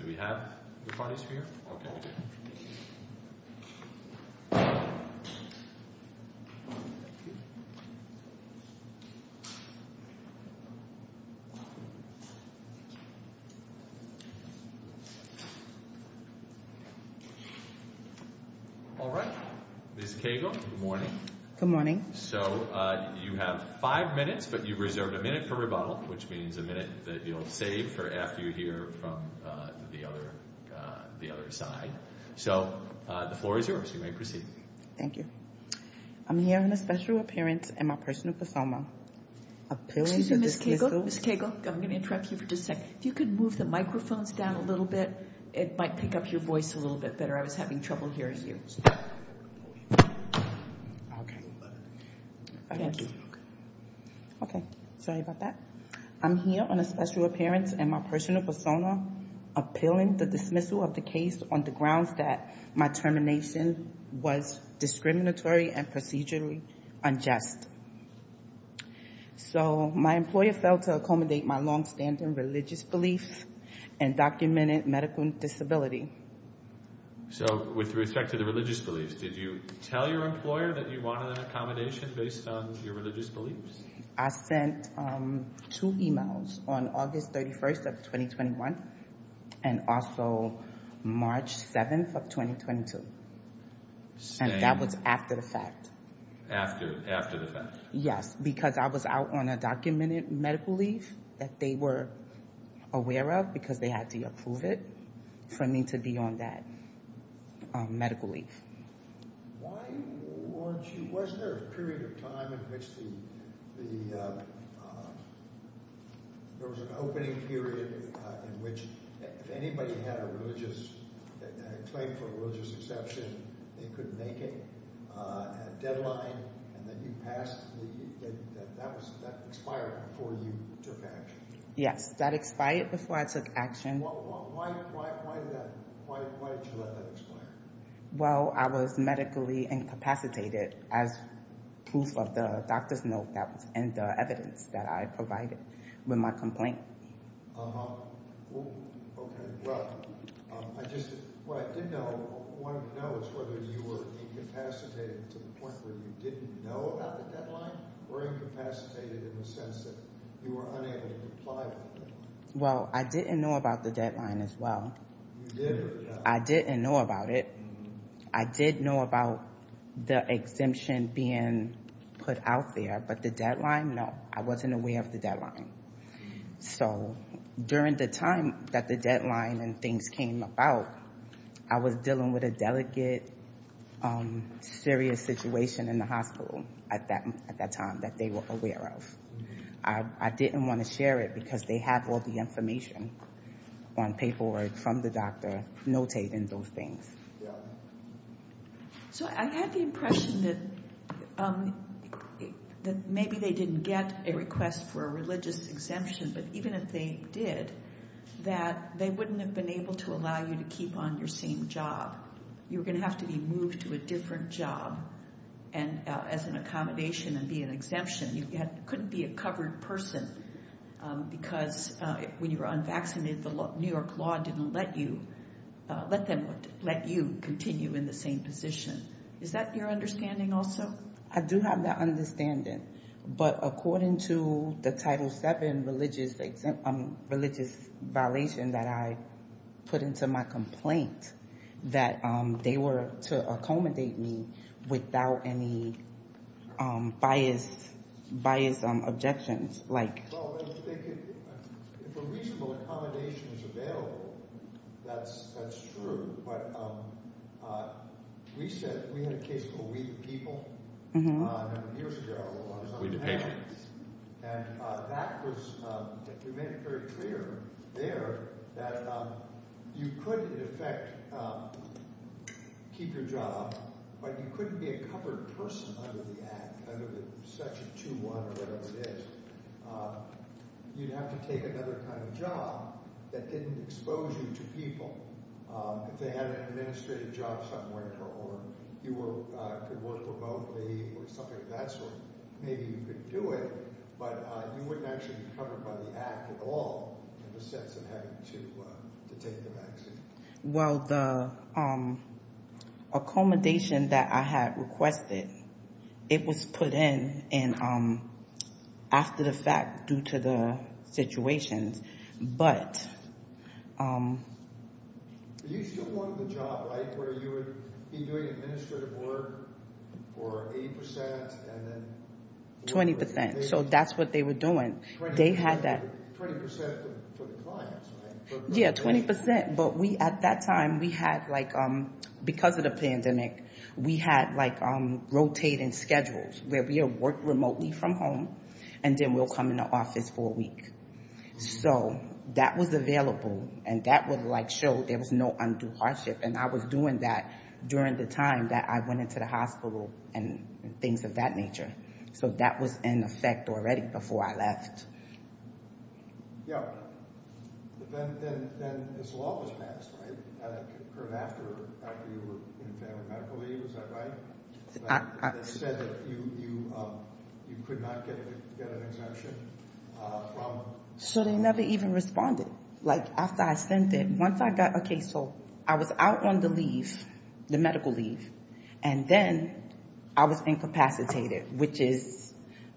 Do we have the parties for you? All right, Ms. Cagle, good morning. Good morning. So you have five minutes, but you reserved a minute for rebuttal, which means a minute that you'll save for after you hear from the other side. So the floor is yours, you may proceed. Thank you. I'm here on a special appearance and my personal cosmo. Excuse me, Ms. Cagle, Ms. Cagle, I'm going to interrupt you for just a second. If you could move the microphones down a little bit, it might pick up your voice a little bit better. I was having trouble hearing you. Okay. Thank you. Okay. Sorry about that. I'm here on a special appearance and my personal persona appealing the dismissal of the case on the grounds that my termination was discriminatory and procedurally unjust. So my employer failed to accommodate my longstanding religious beliefs and documented medical disability. So with respect to the religious beliefs, did you tell your employer that you wanted an accommodation based on your religious beliefs? I sent two emails on August 31st of 2021 and also March 7th of 2022. And that was after the fact. After the fact. Yes. Because I was out on a documented medical leave that they were aware of because they had to approve it for me to be on that medical leave. Why weren't you, wasn't there a period of time in which the, there was an opening period in which if anybody had a religious, a claim for a religious exception, they could make it at a deadline and then you passed the, that expired before you took action? Yes. That expired before I took action. Why did you let that expire? Well, I was medically incapacitated as proof of the doctor's note that was in the evidence that I provided with my complaint. Uh-huh. Okay. Well, I just, what I did know, wanted to know is whether you were incapacitated to the point where you didn't know about the deadline or incapacitated in the sense that you were unable to comply with the deadline? Well, I didn't know about the deadline as well. You didn't? I didn't know about it. I did know about the exemption being put out there, but the deadline, no. I wasn't aware of the deadline. So, during the time that the deadline and things came about, I was dealing with a delicate, serious situation in the hospital at that time that they were aware of. I didn't want to share it because they have all the information on paperwork from the doctor notating those things. Yeah. So, I had the impression that maybe they didn't get a request for a religious exemption, but even if they did, that they wouldn't have been able to allow you to keep on your same job. You were going to have to be moved to a different job as an accommodation and be an exemption. You couldn't be a covered person because when you were unvaccinated, the New York law didn't let you continue in the same position. Is that your understanding also? I do have that understanding, but according to the Title VII religious violation that I put into my complaint, that they were to accommodate me without any biased objections. Well, if a reasonable accommodation is available, that's true. But we had a case called We The People a number of years ago. We The People. And that was—we made it very clear there that you could, in effect, keep your job, but you couldn't be a covered person under the Act, under Section 2.1 or whatever it is. You'd have to take another kind of job that didn't expose you to people. If they had an administrative job somewhere or you could work remotely or something of that sort, maybe you could do it, but you wouldn't actually be covered by the Act at all in the sense of having to take the vaccine. Well, the accommodation that I had requested, it was put in after the fact due to the situation. But— You still wanted the job, right, where you would be doing administrative work for 80% and then— 20%. So that's what they were doing. 20% for the clients, right? Yeah, 20%. But we, at that time, we had, because of the pandemic, we had rotating schedules where we would work remotely from home, and then we'll come into office for a week. So that was available, and that would, like, show there was no undue hardship. And I was doing that during the time that I went into the hospital and things of that nature. So that was in effect already before I left. Yeah. Then this law was passed, right? It occurred after you were in family medical leave. Is that right? It said that you could not get an exemption from— So they never even responded. Like, after I sent it, once I got a case, so I was out on the leave, the medical leave, and then I was incapacitated, which is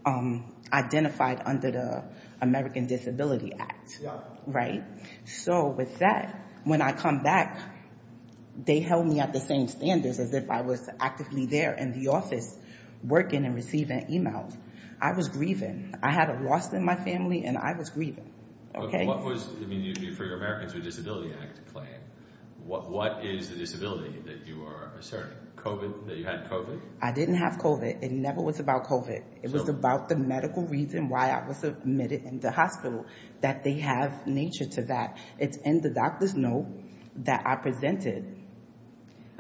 identified under the American Disability Act, right? Yeah. When I come back, they held me at the same standards as if I was actively there in the office working and receiving emails. I was grieving. I had a loss in my family, and I was grieving, okay? What was—I mean, for your Americans with Disabilities Act claim, what is the disability that you are asserting, COVID, that you had COVID? I didn't have COVID. It never was about COVID. It was about the medical reason why I was admitted in the hospital, that they have nature to that. It's in the doctor's note that I presented.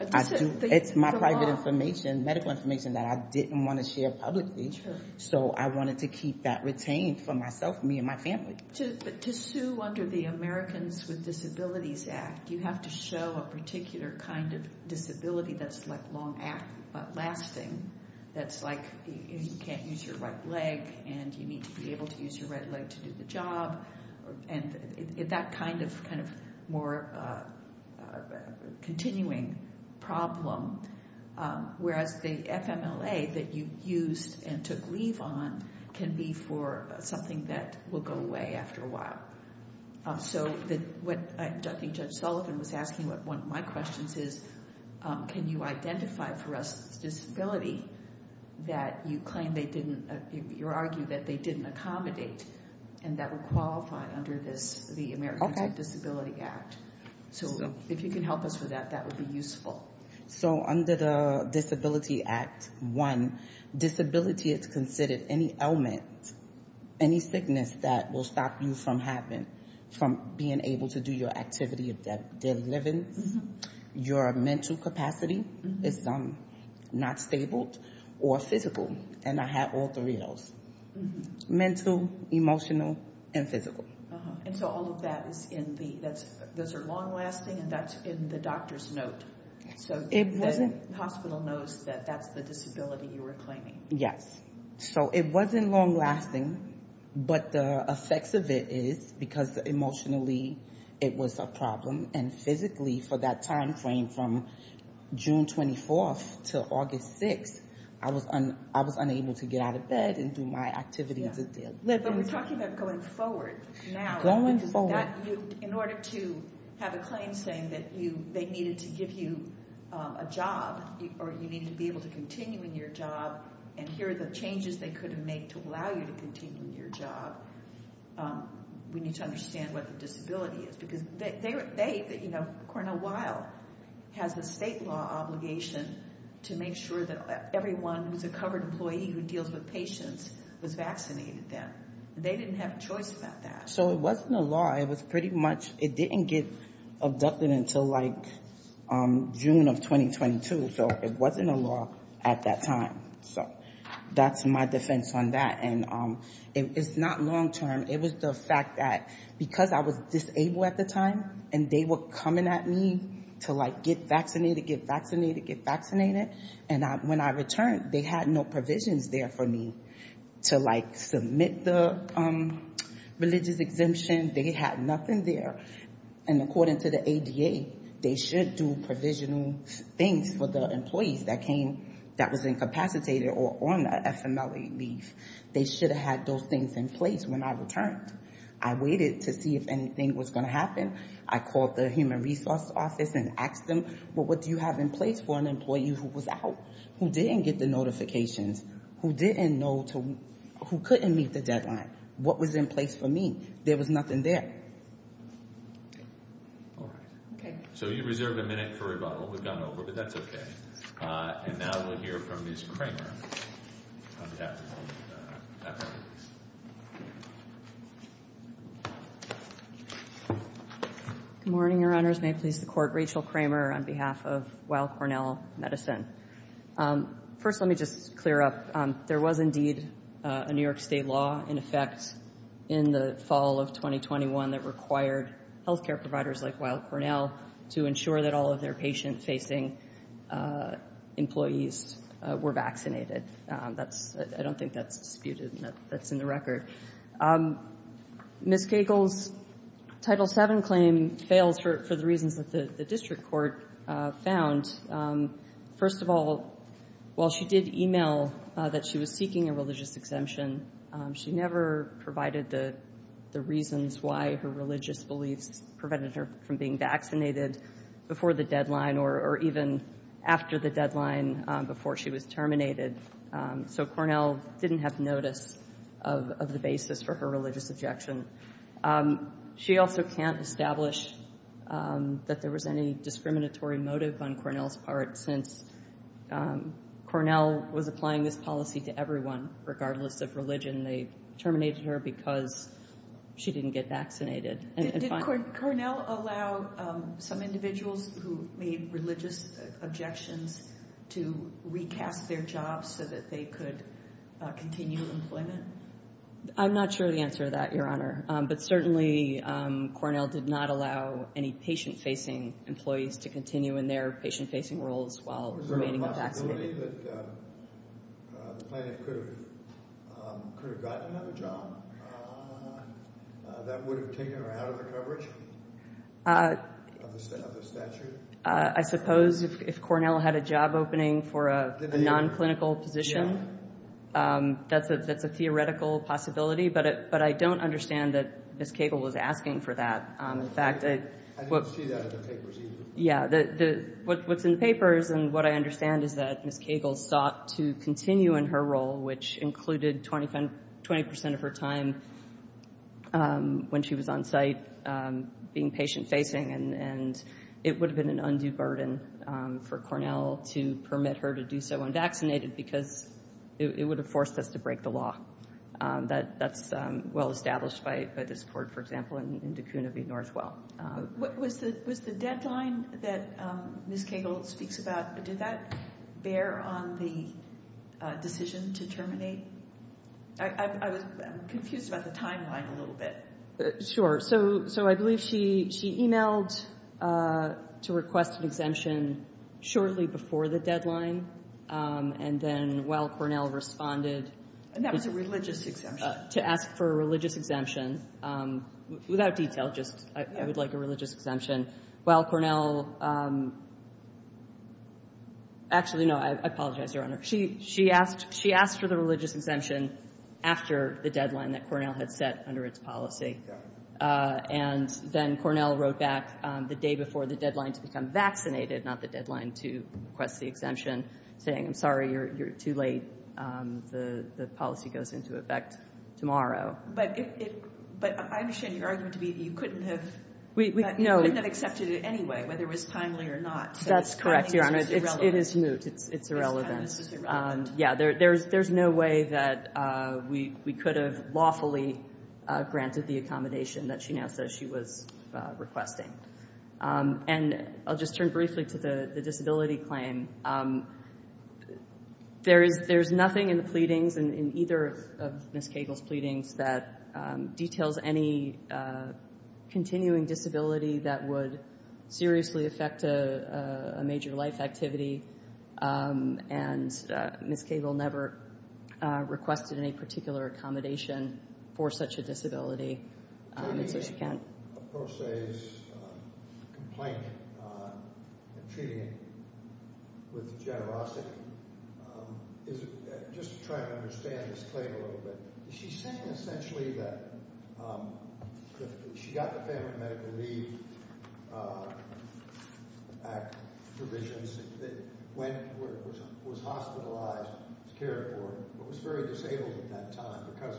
It's my private information, medical information, that I didn't want to share publicly. So I wanted to keep that retained for myself, me, and my family. To sue under the Americans with Disabilities Act, you have to show a particular kind of disability that's long-lasting, that's like, you can't use your right leg, and you need to be able to use your right leg to do the job. And that kind of more continuing problem, whereas the FMLA that you used and took leave on can be for something that will go away after a while. So what I think Judge Sullivan was asking, one of my questions is, can you identify for us a disability that you claim they didn't— Okay. So if you can help us with that, that would be useful. So under the Disability Act, one, disability is considered any ailment, any sickness that will stop you from being able to do your activity of daily living. Your mental capacity is not stable or physical. And I had all three of those—mental, emotional, and physical. And so all of that is in the—those are long-lasting, and that's in the doctor's note. So the hospital knows that that's the disability you were claiming. Yes. So it wasn't long-lasting, but the effects of it is, because emotionally it was a problem, and physically for that timeframe from June 24th to August 6th, I was unable to get out of bed and do my activities of daily living. But we're talking about going forward now. Going forward. In order to have a claim saying that you—they needed to give you a job or you needed to be able to continue in your job, and here are the changes they could have made to allow you to continue in your job, we need to understand what the disability is. Because they, you know, Cornell Weill has a state law obligation to make sure that everyone who's a covered employee who deals with patients was vaccinated then. They didn't have a choice about that. So it wasn't a law. It was pretty much—it didn't get abducted until, like, June of 2022. So it wasn't a law at that time. So that's my defense on that. And it's not long-term. It was the fact that because I was disabled at the time, and they were coming at me to, like, get vaccinated, get vaccinated, get vaccinated, and when I returned, they had no provisions there for me to, like, submit the religious exemption. They had nothing there. And according to the ADA, they should do provisional things for the employees that came— that was incapacitated or on the FMLA leave. They should have had those things in place when I returned. I waited to see if anything was going to happen. I called the human resource office and asked them, well, what do you have in place for an employee who was out, who didn't get the notifications, who didn't know to—who couldn't meet the deadline? What was in place for me? There was nothing there. All right. Okay. So you reserve a minute for rebuttal. We've gone over, but that's okay. And now we'll hear from Ms. Kramer. Good morning, Your Honors. May it please the Court. Rachel Kramer on behalf of Weill Cornell Medicine. First, let me just clear up. There was indeed a New York State law in effect in the fall of 2021 that required health care providers like Weill Cornell to ensure that all of their patient-facing employees were vaccinated. That's—I don't think that's disputed. That's in the record. Ms. Cagle's Title VII claim fails for the reasons that the district court found. First of all, while she did email that she was seeking a religious exemption, she never provided the reasons why her religious beliefs prevented her from being vaccinated before the deadline or even after the deadline before she was terminated. So Cornell didn't have notice of the basis for her religious objection. She also can't establish that there was any discriminatory motive on Cornell's part since Cornell was applying this policy to everyone regardless of religion. They terminated her because she didn't get vaccinated. Did Cornell allow some individuals who made religious objections to recast their jobs so that they could continue employment? I'm not sure of the answer to that, Your Honor. But certainly Cornell did not allow any patient-facing employees to continue in their patient-facing roles while remaining vaccinated. Is there a possibility that the plaintiff could have gotten another job that would have taken her out of the coverage of the statute? I suppose if Cornell had a job opening for a non-clinical position, that's a theoretical possibility. But I don't understand that Ms. Cagle was asking for that. In fact, what's in the papers and what I understand is that Ms. Cagle sought to continue in her role, which included 20 percent of her time when she was on site being patient-facing. And it would have been an undue burden for Cornell to permit her to do so unvaccinated because it would have forced us to break the law. That's well established by this court, for example, in De Koonavie Northwell. Was the deadline that Ms. Cagle speaks about, did that bear on the decision to terminate? I'm confused about the timeline a little bit. Sure. So I believe she e-mailed to request an exemption shortly before the deadline, and then while Cornell responded to ask for a religious exemption, without detail, just I would like a religious exemption, while Cornell actually, no, I apologize, Your Honor. She asked for the religious exemption after the deadline that Cornell had set under its policy. And then Cornell wrote back the day before the deadline to become vaccinated, not the deadline to request the exemption, saying, I'm sorry, you're too late. The policy goes into effect tomorrow. But I understand your argument to be that you couldn't have accepted it anyway, whether it was timely or not. That's correct, Your Honor. So timing is irrelevant. It is moot. It's irrelevant. Timing is irrelevant. Yeah, there's no way that we could have lawfully granted the accommodation that she now says she was requesting. And I'll just turn briefly to the disability claim. There's nothing in the pleadings, in either of Ms. Cagle's pleadings, that details any continuing disability that would seriously affect a major life activity. And Ms. Cagle never requested any particular accommodation for such a disability. Attorney Pro Se's complaint on treating with generosity, just to try to understand this claim a little bit, she's saying essentially that she got the Family Medical Leave Act provisions, that went where it was hospitalized to care for her, but was very disabled at that time because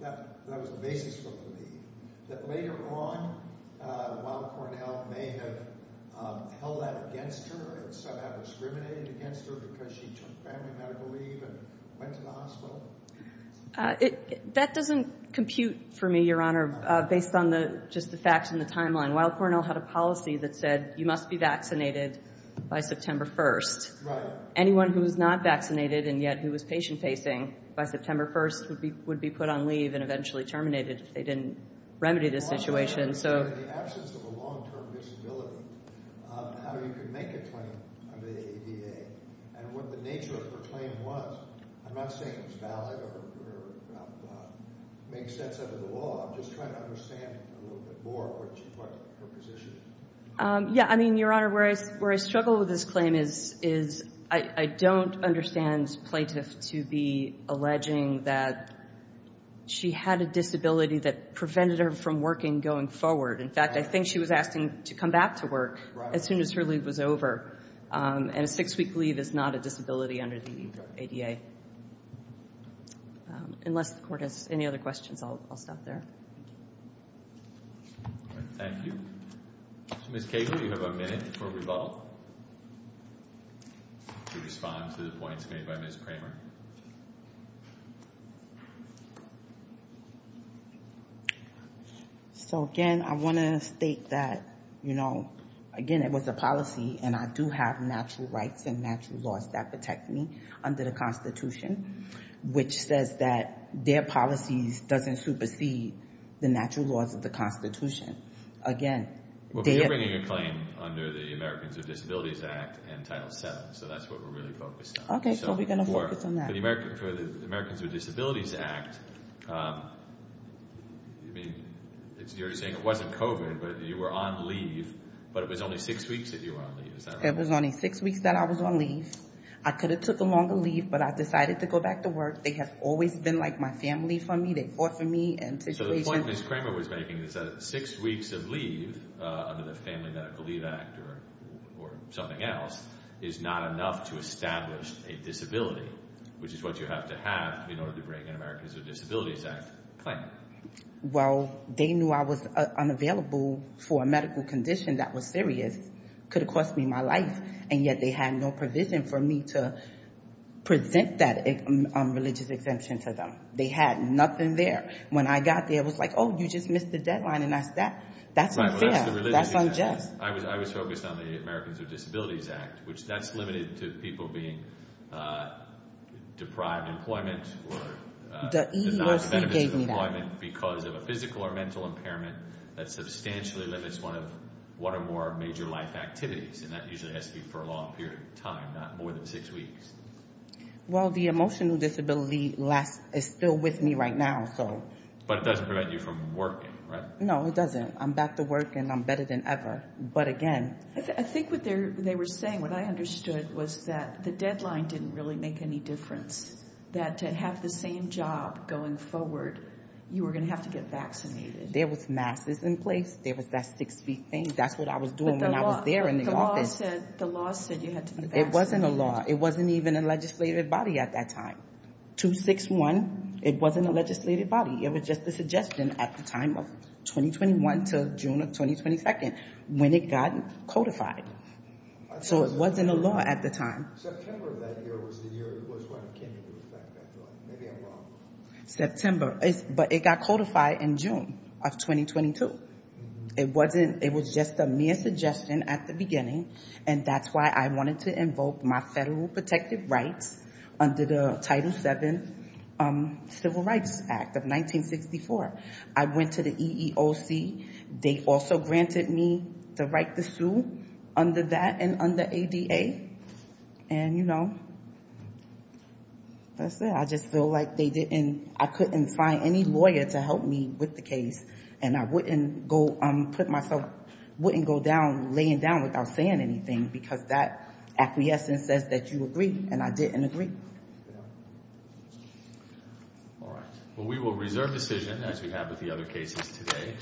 that was the basis for the leave. That later on, Weill Cornell may have held that against her and somehow discriminated against her because she took family medical leave and went to the hospital? That doesn't compute for me, Your Honor, based on just the facts and the timeline. Weill Cornell had a policy that said you must be vaccinated by September 1st. Right. Anyone who was not vaccinated and yet who was patient-facing by September 1st would be put on leave and eventually terminated if they didn't remedy the situation. In the absence of a long-term disability, how you could make a claim under the ADA and what the nature of her claim was, I'm not saying it's valid or makes sense under the law. I'm just trying to understand a little bit more what her position is. Yeah, I mean, Your Honor, where I struggle with this claim is I don't understand plaintiffs to be alleging that she had a disability that prevented her from working going forward. In fact, I think she was asking to come back to work as soon as her leave was over, and a six-week leave is not a disability under the ADA. Unless the Court has any other questions, I'll stop there. Thank you. Ms. Cagle, you have a minute before we vote to respond to the points made by Ms. Kramer. So, again, I want to state that, you know, again, it was a policy, and I do have natural rights and natural laws that protect me under the Constitution, which says that their policies doesn't supersede the natural laws of the Constitution. Well, but you're bringing a claim under the Americans with Disabilities Act and Title VII, so that's what we're really focused on. Okay, so we're going to focus on that. For the Americans with Disabilities Act, I mean, you're saying it wasn't COVID, but you were on leave, but it was only six weeks that you were on leave. Is that right? It was only six weeks that I was on leave. I could have took a longer leave, but I decided to go back to work. They have always been like my family for me. They fought for me. So the point Ms. Kramer was making is that six weeks of leave under the Family Medical Leave Act or something else is not enough to establish a disability, which is what you have to have in order to bring an Americans with Disabilities Act claim. Well, they knew I was unavailable for a medical condition that was serious, could have cost me my life, and yet they had no provision for me to present that religious exemption to them. They had nothing there. When I got there, it was like, oh, you just missed the deadline, and that's that. That's unfair. That's unjust. I was focused on the Americans with Disabilities Act, which that's limited to people being deprived of employment or denied benefits of employment because of a physical or mental impairment that substantially limits one or more major life activities, and that usually has to be for a long period of time, not more than six weeks. Well, the emotional disability is still with me right now. But it doesn't prevent you from working, right? No, it doesn't. I'm back to work, and I'm better than ever, but again. I think what they were saying, what I understood, was that the deadline didn't really make any difference, that to have the same job going forward, you were going to have to get vaccinated. There was masks in place. There was that six-week thing. That's what I was doing when I was there in the office. But the law said you had to be vaccinated. It wasn't a law. It wasn't even a legislative body at that time. 261, it wasn't a legislative body. It was just a suggestion at the time of 2021 to June of 2022 when it got codified. So it wasn't a law at the time. September of that year was the year it was when it came into effect, I feel like. Maybe I'm wrong. September. But it got codified in June of 2022. It was just a mere suggestion at the beginning, and that's why I wanted to invoke my federal protective rights under the Title VII Civil Rights Act of 1964. I went to the EEOC. They also granted me the right to sue under that and under ADA. And, you know, that's it. I just feel like I couldn't find any lawyer to help me with the case, and I wouldn't go down laying down without saying anything because that acquiescence says that you agree, and I did agree. All right. Well, we will reserve decision, as we have with the other cases today.